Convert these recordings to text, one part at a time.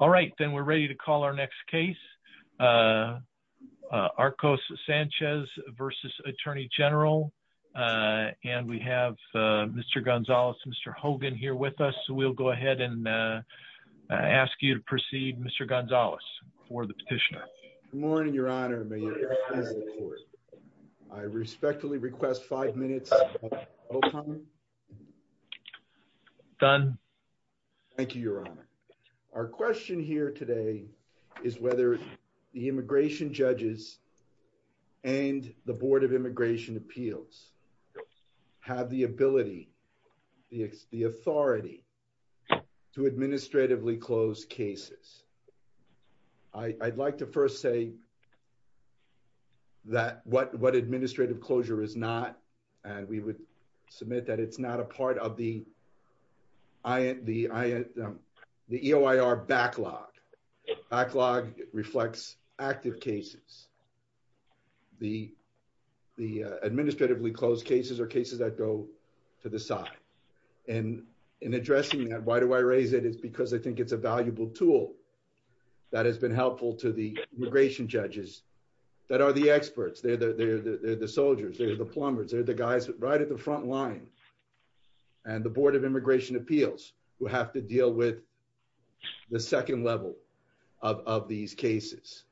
All right, then we're ready to call our next case. Arcos Sanchez v. Attorney General. And we have Mr. Gonzales, Mr. Hogan here with us. So we'll go ahead and ask you to proceed, Mr. Gonzales, for the petitioner. Good morning, Your Honor. I respectfully request five minutes. Done. Thank you, Your Honor. Our question here today is whether the immigration judges and the Board of Immigration Appeals have the ability, the authority to administratively close cases. I'd like to first say that what administrative closure is not, and we would submit that it's not a part of the the EOIR backlog. Backlog reflects active cases. The administratively closed cases are cases that go to the side. And in addressing that, why do I raise it? It's because I think it's a valuable tool that has been helpful to the immigration judges that are the experts. They're the soldiers, they're the plumbers, they're the guys right at the front line, and the Board of Immigration Appeals who have to deal with the second level of these cases.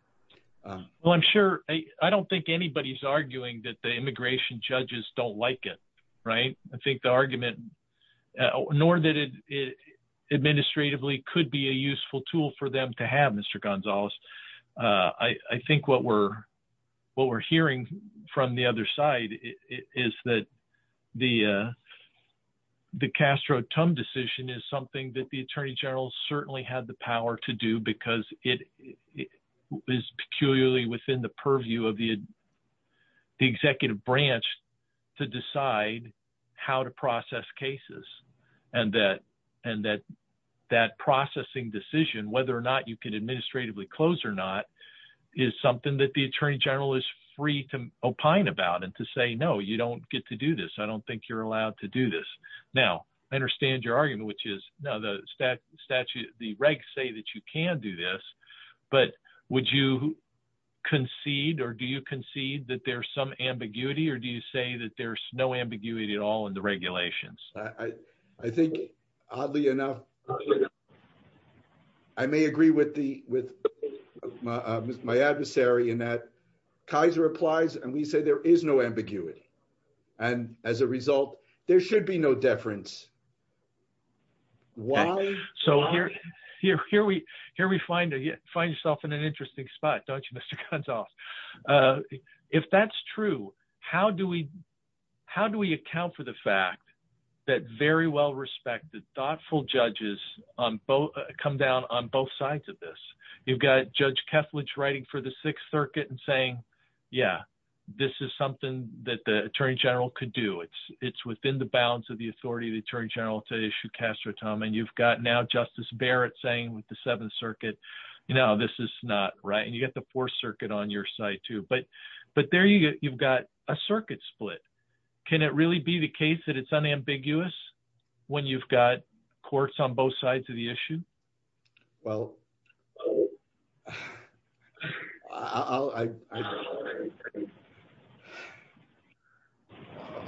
Well, I'm sure I don't think anybody's arguing that the immigration judges don't like it, right? I think the argument, nor that it administratively could be a useful tool for them to have, Mr. Gonzales. I think what we're hearing from the other side is that the Castro-Tum decision is something that the Attorney General certainly had the power to do because it is peculiarly within the purview of the executive branch to decide how to process cases. And that processing decision, whether or not you can administratively close or not, is something that the Attorney General is free to opine about and to say, no, you don't get to do this. I don't think you're allowed to do this. Now, I understand your argument, which is, no, the regs say that you can do this, but would you concede or do you concede that there's some ambiguity or do you say that there's no ambiguity at all in the regulations? I think, oddly enough, I may agree with my adversary in that Kaiser applies and we say there is no ambiguity. And as a result, there should be no deference. So here we find yourself in an interesting spot, don't you, Mr. Gonzales? If that's true, how do we account for the fact that very well-respected, thoughtful judges come down on both sides of this? You've got Judge Keflage writing for the Sixth Circuit and saying, yeah, this is something that the Attorney General could do. It's within the bounds of the authority of the Attorney General to issue castratum. And you've got now Justice Barrett saying with the Seventh Circuit, no, this is not right. And you get the Fourth Circuit on your side, too. But there you've got a circuit split. Can it really be the case that it's unambiguous when you've got courts on both sides of the issue? Well,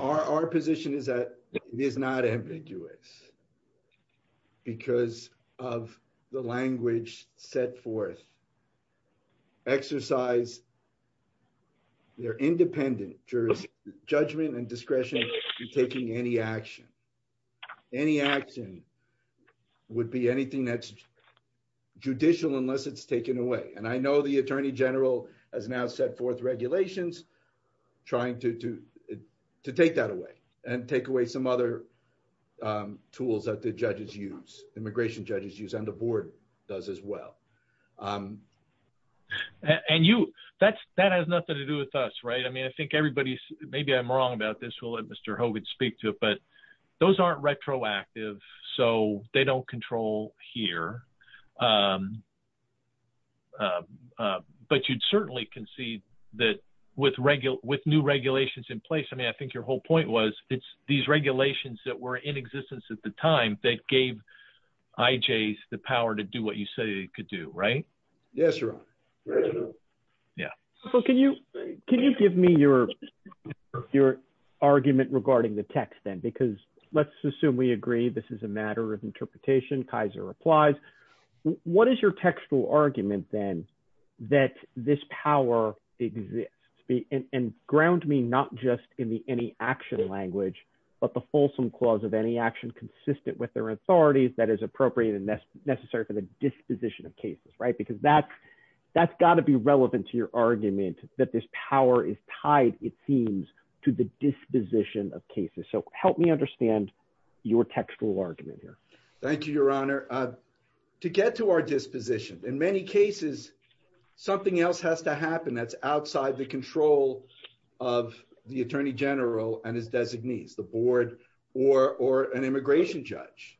our position is that it is not ambiguous because of the language set forth. Exercise their independent judgment and discretion in taking any action. Any action would be anything that's judicial unless it's taken away. And I know the Attorney General has now set forth regulations trying to take that away and take away some other tools that the judges use, immigration judges use, and the board does as well. And you, that has nothing to do with us, right? I mean, I think everybody's, maybe I'm wrong about this. We'll let Mr. Hogan speak to it. But those aren't retroactive, so they don't control here. But you'd certainly concede that with new regulations in place, I mean, I think your whole point was it's these regulations that were in existence at the time that gave IJs the power to do what you say they could do, right? Yes, Ron. Yeah. So can you give me your argument regarding the text then? Because let's assume we agree this is a matter of interpretation. Kaiser applies. What is your textual argument then that this power exists? And ground me not just in the action language, but the fulsome clause of any action consistent with their authorities that is appropriate and necessary for the disposition of cases, right? Because that's got to be relevant to your argument that this power is tied, it seems, to the disposition of cases. So help me understand your textual argument here. Thank you, Your Honor. To get to our disposition, in many cases, something else has to happen that's outside the control of the attorney general and his designees, the board, or an immigration judge.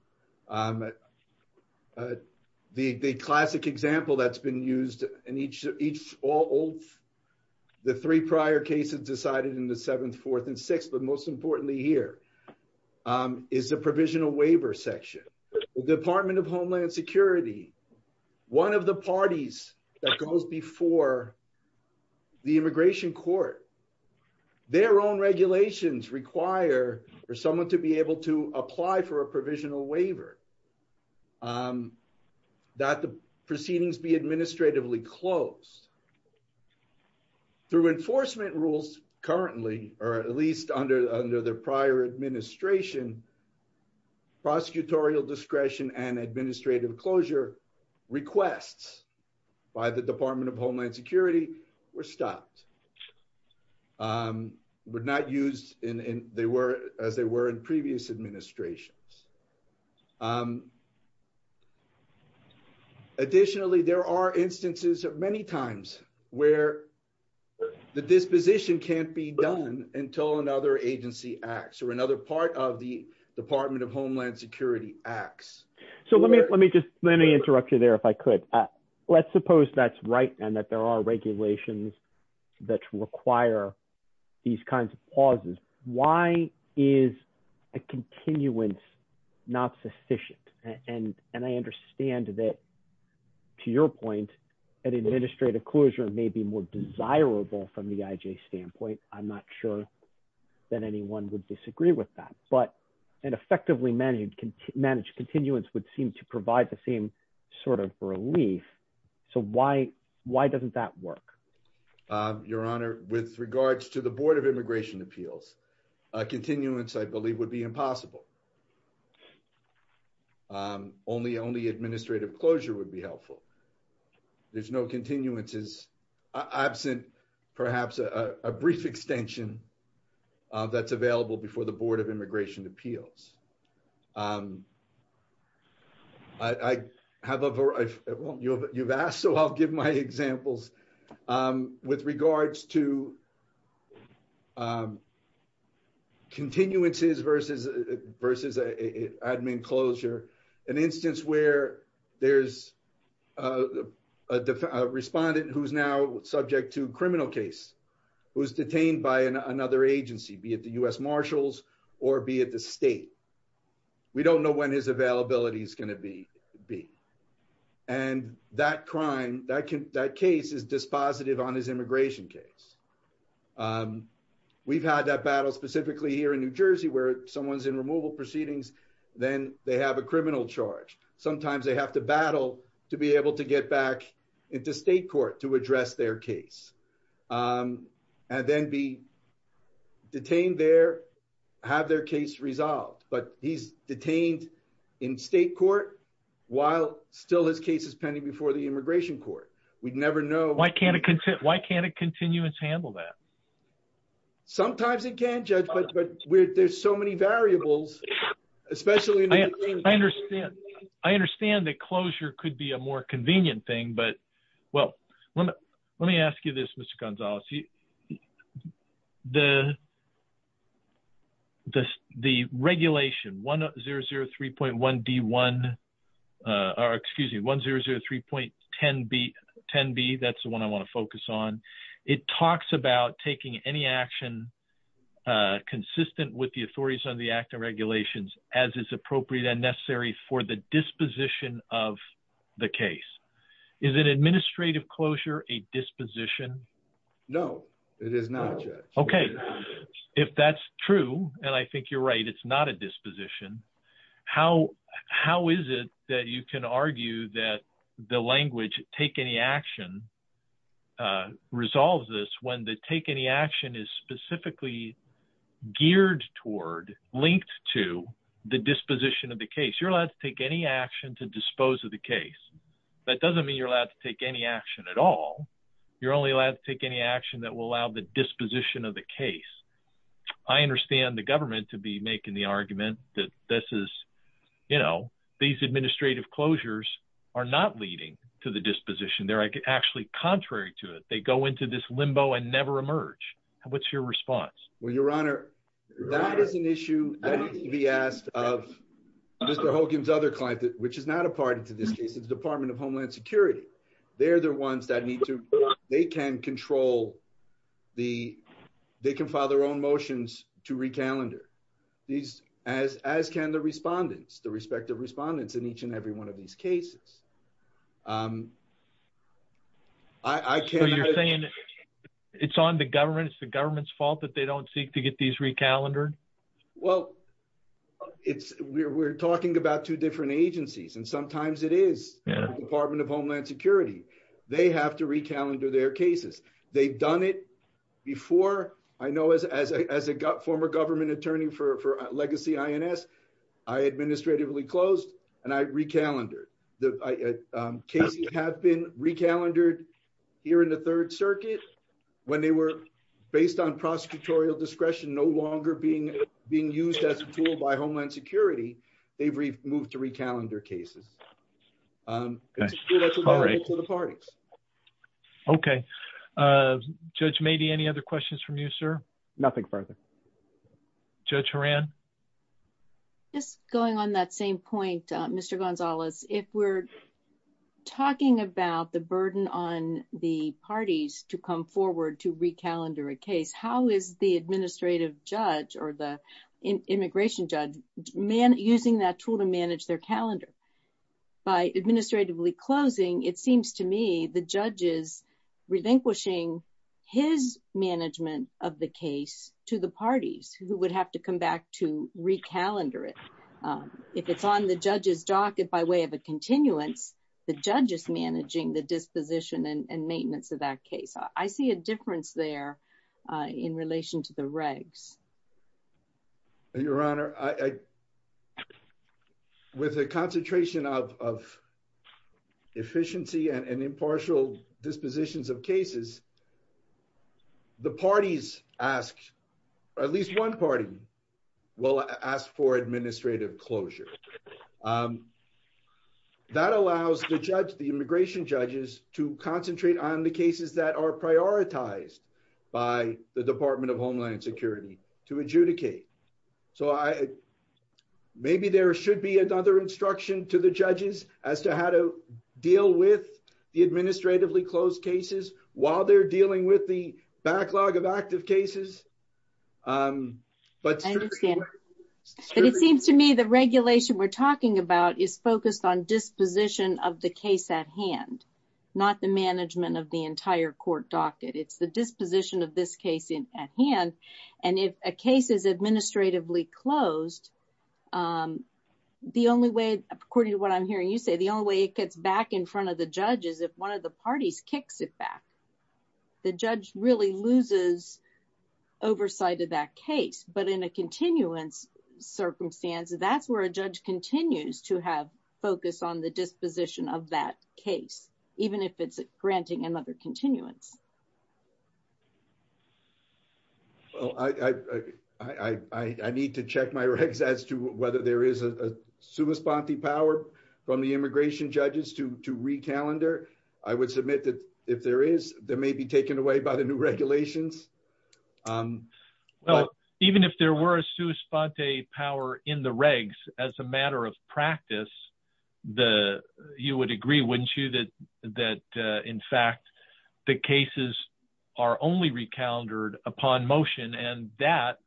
The classic example that's been used in each of the three prior cases decided in the seventh, fourth, and sixth, but most importantly here, is the provisional waiver section. The Department of Homeland Security, one of the parties that goes before the immigration court, their own regulations require for someone to be able to apply for a provisional waiver that the proceedings be administratively closed. Through enforcement rules currently, or at least under the prior administration, prosecutorial discretion and administrative closure requests by the Department of Homeland Security were stopped, were not used as they were in previous administrations. Additionally, there are instances of many times where the disposition can't be done until another agency acts, or another part of the Department of Homeland Security acts. So let me interrupt you there, if I could. Let's suppose that's right, and that there are regulations that require these kinds of pauses. Why is a continuance not sufficient? And I understand that, to your point, an administrative closure may be more desirable from the IJ standpoint. I'm not sure that anyone would disagree with that. But an effectively managed continuance would seem to provide the same sort of relief. So why doesn't that work? Your Honor, with regards to the Board of Immigration Appeals, a continuance, I believe, would be impossible. Only administrative closure would be helpful. There's no continuances absent, perhaps a brief extension that's available before the Board of Immigration Appeals. I have a, well, you've asked, so I'll give my examples. With regards to continuances versus admin closure, an instance where there's a respondent who's now subject to a criminal case, who's detained by another agency, be it the U.S. Marshals, or be it the state, we don't know when his availability is going to be. And that crime, that case is dispositive on his immigration case. We've had that battle specifically here in New Jersey where someone's in removal proceedings, then they have a criminal charge. Sometimes they have to battle to be able to get back into state court to address their case and then be detained there, have their case resolved. But he's detained in state court while still his case is pending before the immigration court. We'd never know. Why can't a continuance handle that? Sometimes it can, Judge, but there's so many variables, especially in the beginning. I understand. I understand that closure could be a more convenient thing, but, well, let me ask you this, Mr. Gonzalez. The regulation 1003.1D1, or excuse me, 1003.10B, that's the one I want to focus on. It talks about taking any action consistent with the authorities on the act and regulations as is appropriate and necessary for the disposition of the case. Is an administrative closure a disposition? No, it is not, Judge. Okay. If that's true, and I think you're right, it's not a disposition, how is it that you can argue that the language, take any action, resolves this when the take any action is specifically geared toward, linked to, the disposition of the case? You're allowed to take any action to dispose of the case. That doesn't mean you're allowed to take any action at all. You're only allowed to take any action that will allow the disposition of the case. I understand the government to be in the argument that these administrative closures are not leading to the disposition. They're actually contrary to it. They go into this limbo and never emerge. What's your response? Well, Your Honor, that is an issue that needs to be asked of Mr. Hogan's other client, which is not a party to this case, it's the Department of Homeland Security. They're the ones that need to, they can control, they can file their own motions to recalendar. These, as can the respondents, the respective respondents in each and every one of these cases. I can't... So you're saying it's on the government, it's the government's fault that they don't seek to get these recalendared? Well, it's, we're talking about two different agencies, and sometimes it is. Yeah. Department of Homeland Security, they have to recalendar their cases. They've done it before. I know as a former government attorney for legacy INS, I administratively closed and I recalendared. Cases have been recalendared here in the Third Circuit when they were, based on prosecutorial discretion, no longer being used as a tool by Homeland Security, they've moved to recalendar cases. Okay. Okay. Judge Mady, any other questions from you, sir? Nothing further. Judge Horan? Just going on that same point, Mr. Gonzalez, if we're talking about the burden on the parties to come forward to recalendar a case, how is the administrative judge or the immigration judge using that tool to manage their calendar? By administratively closing, it seems to me the judge is relinquishing his management of the case to the parties who would have to come back to recalendar it. If it's on the judge's docket by way of a continuance, the judge is managing the disposition and maintenance of that case. I see a difference there in relation to the regs. Your Honor, with a concentration of efficiency and impartial dispositions of cases, the parties ask, at least one party will ask for administrative closure. That allows the judge, the immigration judges, to concentrate on the cases that are prioritized by the Department of Homeland Security to adjudicate. Maybe there should be another instruction to the judges as to how to deal with the administratively closed cases while they're dealing with the backlog of active cases. I understand. It seems to me the regulation we're talking about is focused on disposition of the case at hand, not the management of the entire court docket. It's the disposition of this case at hand. If a case is administratively closed, the only way, according to what I'm hearing you say, the only way it gets back in front of the judge is if one of the parties kicks it back. The judge really loses oversight of that case. In a continuance circumstance, that's where judge continues to have focus on the disposition of that case, even if it's granting another continuance. I need to check my regs as to whether there is a sui sponte power from the immigration judges to re-calendar. I would submit that if there is, they may be taken away by the new practice. You would agree, wouldn't you, that in fact the cases are only re-calendared upon motion and that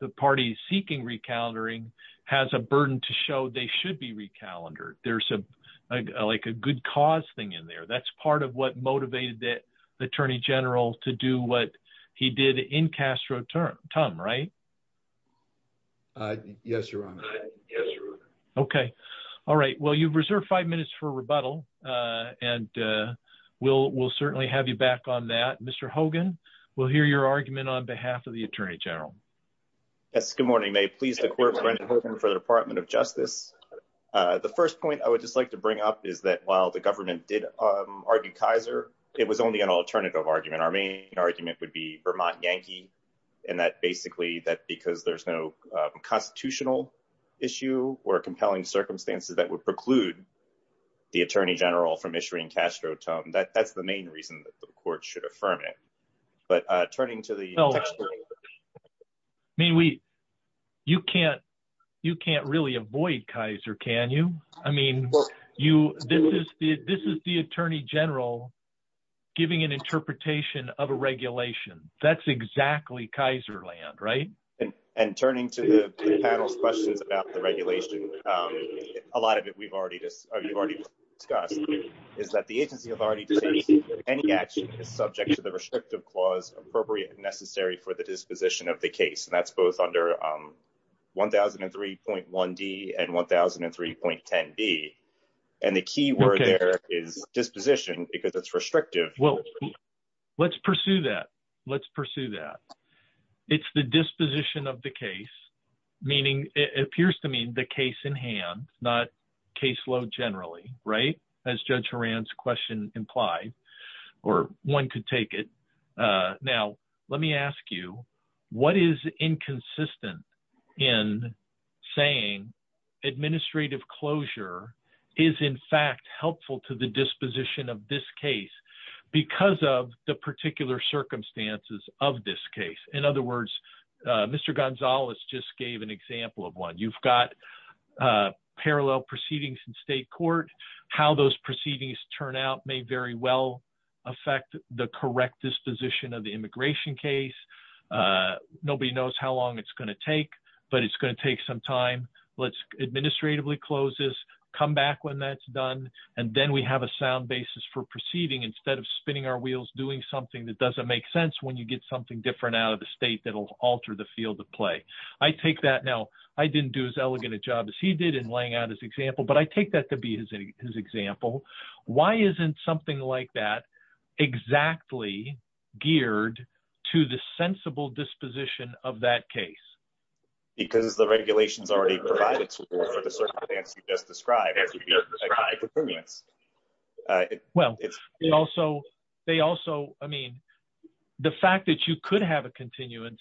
the party seeking re-calendaring has a burden to show they should be re-calendared. There's a good cause thing in there. That's part of what motivated the Attorney General to do what he did in Castro-Tum, right? Yes, Your Honor. Okay. All right. Well, you've reserved five minutes for rebuttal and we'll certainly have you back on that. Mr. Hogan, we'll hear your argument on behalf of the Attorney General. Yes, good morning. May it please the Court, Brendan Hogan for the Department of Justice. The first point I would just like to bring up is that while the government did argue Kaiser, it was only an alternative argument. Our main argument would be Vermont Yankee and that basically that because there's no constitutional issue or compelling circumstances that would preclude the Attorney General from issuing Castro-Tum, that's the main reason that the Court should affirm it. But turning to the textual... I mean, you can't really avoid Kaiser, can you? I mean, this is the Attorney General giving an interpretation of a regulation. That's exactly Kaiser land, right? And turning to the panel's questions about the regulation, a lot of it we've already discussed is that the agency has already decided that any action is subject to the restrictive clause appropriate and necessary for the disposition of the case. And that's both under 1003.1D and 1003.10B. And the key word there is disposition because it's restrictive. Well, let's pursue that. Let's pursue that. It's the disposition of the case, meaning it appears to mean the case in hand, not caseload generally, right? As Judge Horan's question implied or one could take it. Now, let me ask you, what is inconsistent in saying administrative closure is in fact helpful to the disposition of this case because of the particular circumstances of this case? In other words, Mr. Gonzalez just gave an example of one. You've got parallel proceedings in state court. How those proceedings turn out may very well affect the correct disposition of the immigration case. Nobody knows how long it's going to take, but it's going to take some time. Let's administratively close this, come back when that's done, and then we have a sound basis for proceeding instead of spinning our wheels doing something that doesn't make sense when you get something different out of the state that'll alter the field of play. I take that now. I didn't do as elegant a job as he did in laying out his example, but I take that to be his example. Why isn't something like that exactly geared to the sensible disposition of that case? Because the regulations already provide it for the circumstances you just described. Well, they also, I mean, the fact that you could have a continuance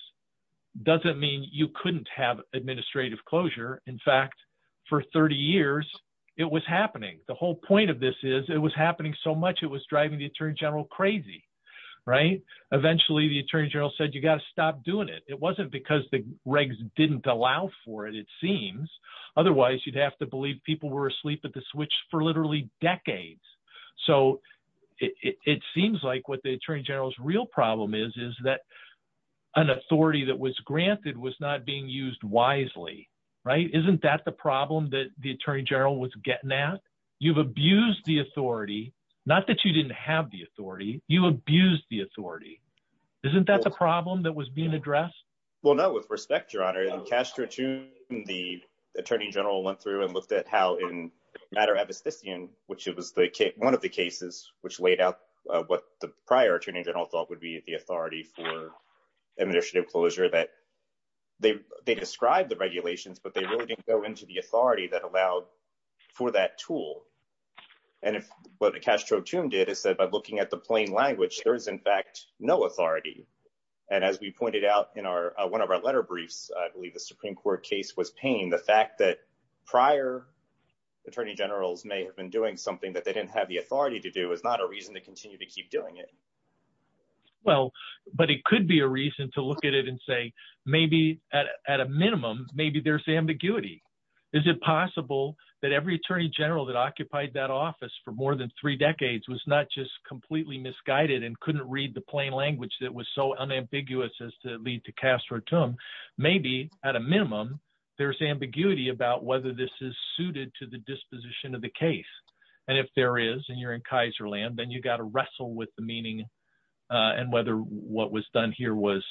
doesn't mean you couldn't have administrative closure. In fact, for 30 years, it was happening. The whole point of this is it was happening so much it was driving the attorney general crazy. Eventually, the attorney general said, you got to stop doing it. It wasn't because the regs didn't allow for it, it seems. Otherwise, you'd have to believe people were asleep at the switch for literally decades. It seems like what the attorney general's problem is, is that an authority that was granted was not being used wisely, right? Isn't that the problem that the attorney general was getting at? You've abused the authority, not that you didn't have the authority, you abused the authority. Isn't that the problem that was being addressed? Well, no, with respect, your honor, in Castro 2, the attorney general went through and looked at how in Madera Abyssinian, which it was one of the cases which laid out what the prior attorney general thought would be the authority for administrative closure, that they described the regulations, but they really didn't go into the authority that allowed for that tool. And if what Castro 2 did is that by looking at the plain language, there is in fact no authority. And as we pointed out in one of our letter briefs, I believe the Supreme Court case was paying the fact that prior attorney generals may have been doing something that they didn't have the authority to do is not a reason to continue to keep doing it. Well, but it could be a reason to look at it and say, maybe at a minimum, maybe there's ambiguity. Is it possible that every attorney general that occupied that office for more than three decades was not just completely misguided and couldn't read the plain language that was so unambiguous as to lead to Castro 2? Maybe at a minimum, there's ambiguity about whether this is suited to the disposition of the case. And if there is, and you're in Kaiserland, then you got to wrestle with the meaning and whether what was done here was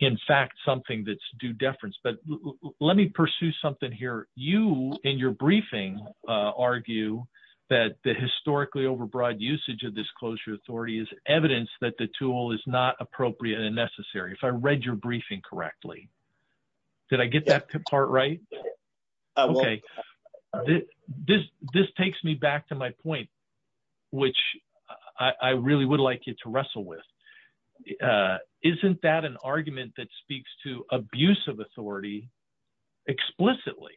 in fact something that's due deference. But let me pursue something here. You in your briefing argue that the historically overbroad usage of this closure authority is evidence that the tool is not appropriate and necessary. If I which I really would like you to wrestle with, isn't that an argument that speaks to abuse of authority explicitly,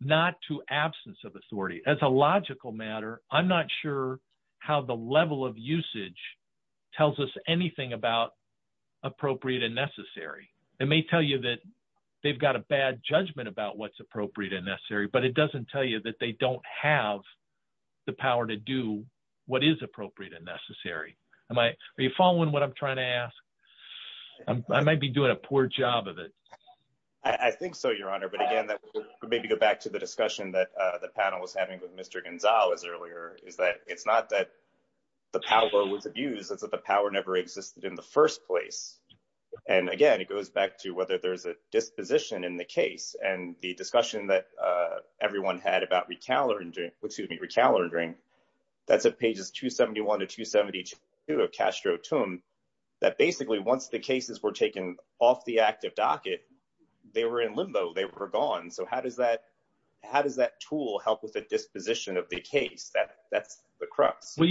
not to absence of authority? As a logical matter, I'm not sure how the level of usage tells us anything about appropriate and necessary. It may tell you that they've got a bad judgment about what's appropriate and necessary, but it doesn't tell you that they don't have the power to do what is appropriate and necessary. Are you following what I'm trying to ask? I might be doing a poor job of it. I think so, Your Honor. But again, that would maybe go back to the discussion that the panel was having with Mr. Gonzales earlier, is that it's not that the power was abused, it's that the power never existed in the first place. And again, it goes back to whether there's a disposition in the case and the discussion that everyone had about recalibrating, excuse me, recalibrating, that's at pages 271 to 272 of Castro-Tum, that basically once the cases were taken off the active docket, they were in limbo, they were gone. So how does that tool help with the disposition of the case? That's the crux. Well,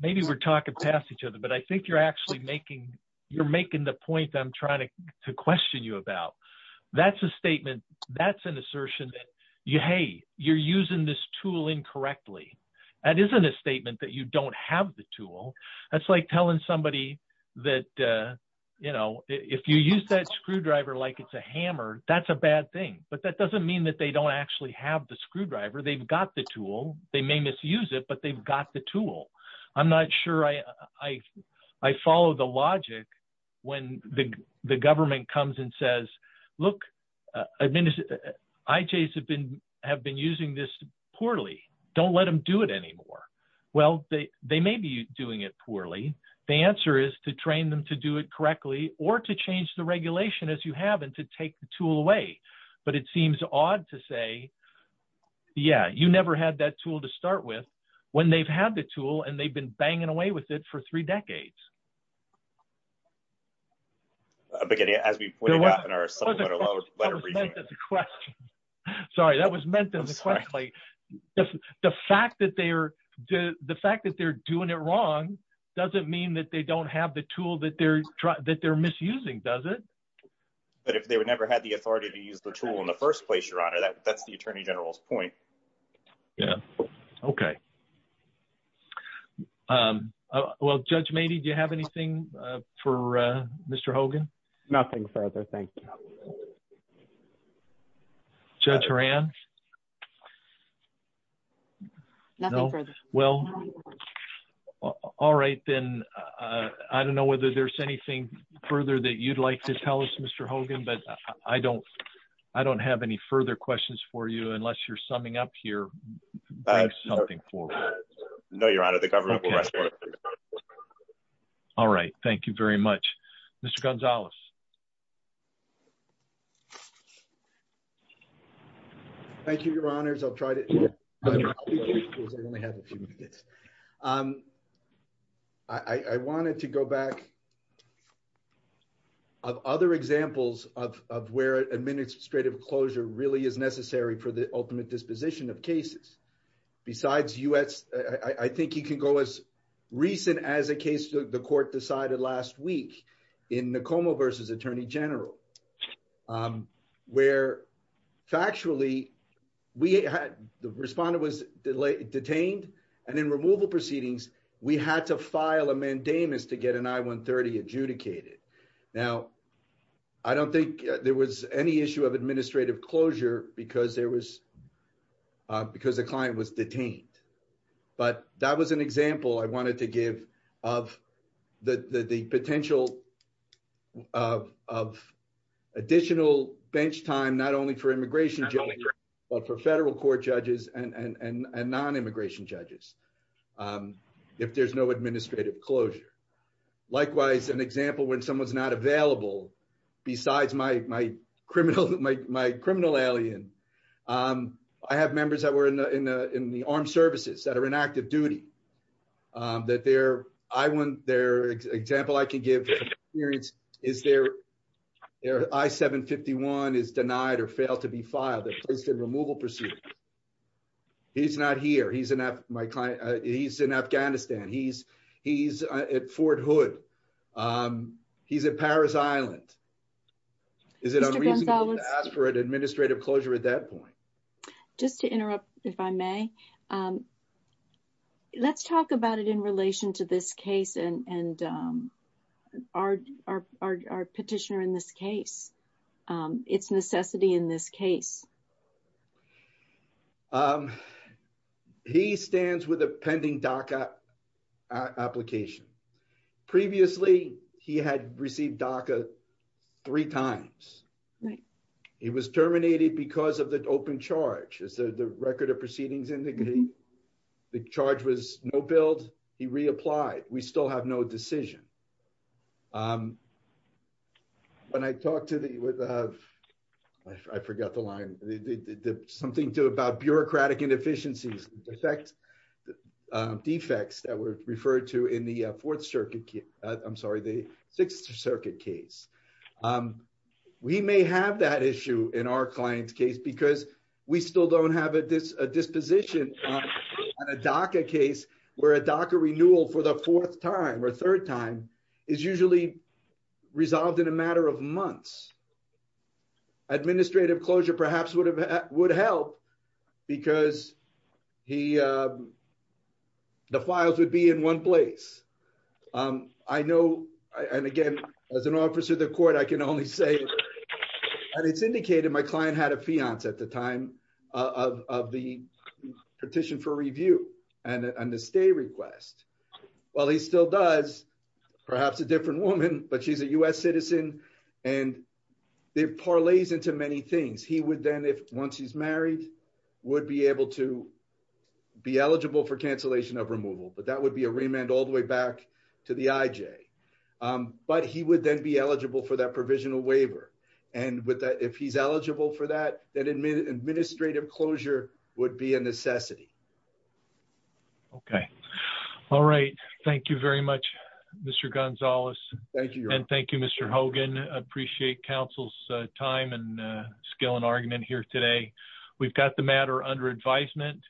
maybe we're talking past each other, but I think you're actually making the point I'm trying to question you about. That's a statement, that's an assertion that, hey, you're using this tool incorrectly. That isn't a statement that you don't have the tool. That's like telling somebody that if you use that screwdriver like it's a hammer, that's a bad thing. But that doesn't mean that they don't actually have the screwdriver. They've got the tool. They may misuse it, but they've got the tool. I'm not sure I follow the logic when the government comes and says, look, IJs have been using this poorly. Don't let them do it anymore. Well, they may be doing it poorly. The answer is to train them to do it correctly or to change the regulation as you have and to take the tool away. But it seems odd to say, yeah, you never had that tool to start with when they've had the tool and they've been banging away with it for three decades. But as we pointed out in our letter reading. Sorry, that was meant as a question. The fact that they're doing it wrong doesn't mean that they don't have the tool that they're misusing, does it? But if they would never have the authority to use the tool in the first place, that's the attorney general's point. Yeah. OK. Well, Judge Mady, do you have anything for Mr. Hogan? Nothing further. Thank you. Judge Horan. Well, all right, then. I don't know whether there's anything further that you'd like to Mr. Hogan, but I don't I don't have any further questions for you unless you're summing up here. No, you're out of the government. All right. Thank you very much, Mr. Gonzalez. Thank you, your honors. I'll try to. I wanted to go back. Of other examples of where administrative closure really is necessary for the ultimate disposition of cases besides US, I think you can go as recent as a case the court decided last week in the coma versus attorney general, where factually we had the respondent was detained. And in removal proceedings, we had to file a mandamus to get an I-130 adjudicated. Now, I don't think there was any issue of administrative closure because there was because the client was detained. But that was an example I wanted to give of the potential of additional bench time, not only for immigration, but for federal court judges and non-immigration judges if there's no administrative closure. Likewise, an example when someone's not available besides my criminal alien, I have members that were in the armed services that are in active duty. That their example I can give is their I-751 is denied or failed to be filed. Placed in removal proceedings. He's not here. He's in Afghanistan. He's at Fort Hood. He's at Paris Island. Is it unreasonable to ask for an administrative closure at that point? Just to interrupt, if I may, let's talk about it in relation to this case and our petitioner in this case. Its necessity in this case. He stands with a pending DACA application. Previously, he had received DACA three times. He was terminated because of the open charge. As the record of proceedings indicate, the charge was no build. He reapplied. We still have no decision. When I talked to the, I forgot the line, something about bureaucratic inefficiencies, defects that were referred to in the Sixth Circuit case. We may have that issue in our client's case because we still don't have a disposition on a DACA case where a DACA renewal for the fourth time or third time is usually resolved in a matter of months. Administrative closure perhaps would help because the files would be in one place. I know, and again, as an officer of the court, I can only say, and it's indicated my client had a fiance at the time of the petition for review and the stay request. While he still does, perhaps a different woman, but she's a U.S. citizen, and it parlays into many things. He would then, once he's married, would be able to be eligible for cancellation of removal, but that would be a remand all the way back to the IJ. But he would then be eligible for that provisional waiver. And with that, if he's eligible for that, then administrative closure would be a necessity. Okay. All right. Thank you very much, Mr. Gonzalez. Thank you. And thank you, Mr. Hogan. Appreciate counsel's time and skill and argument here today. We've got the matter under advisement.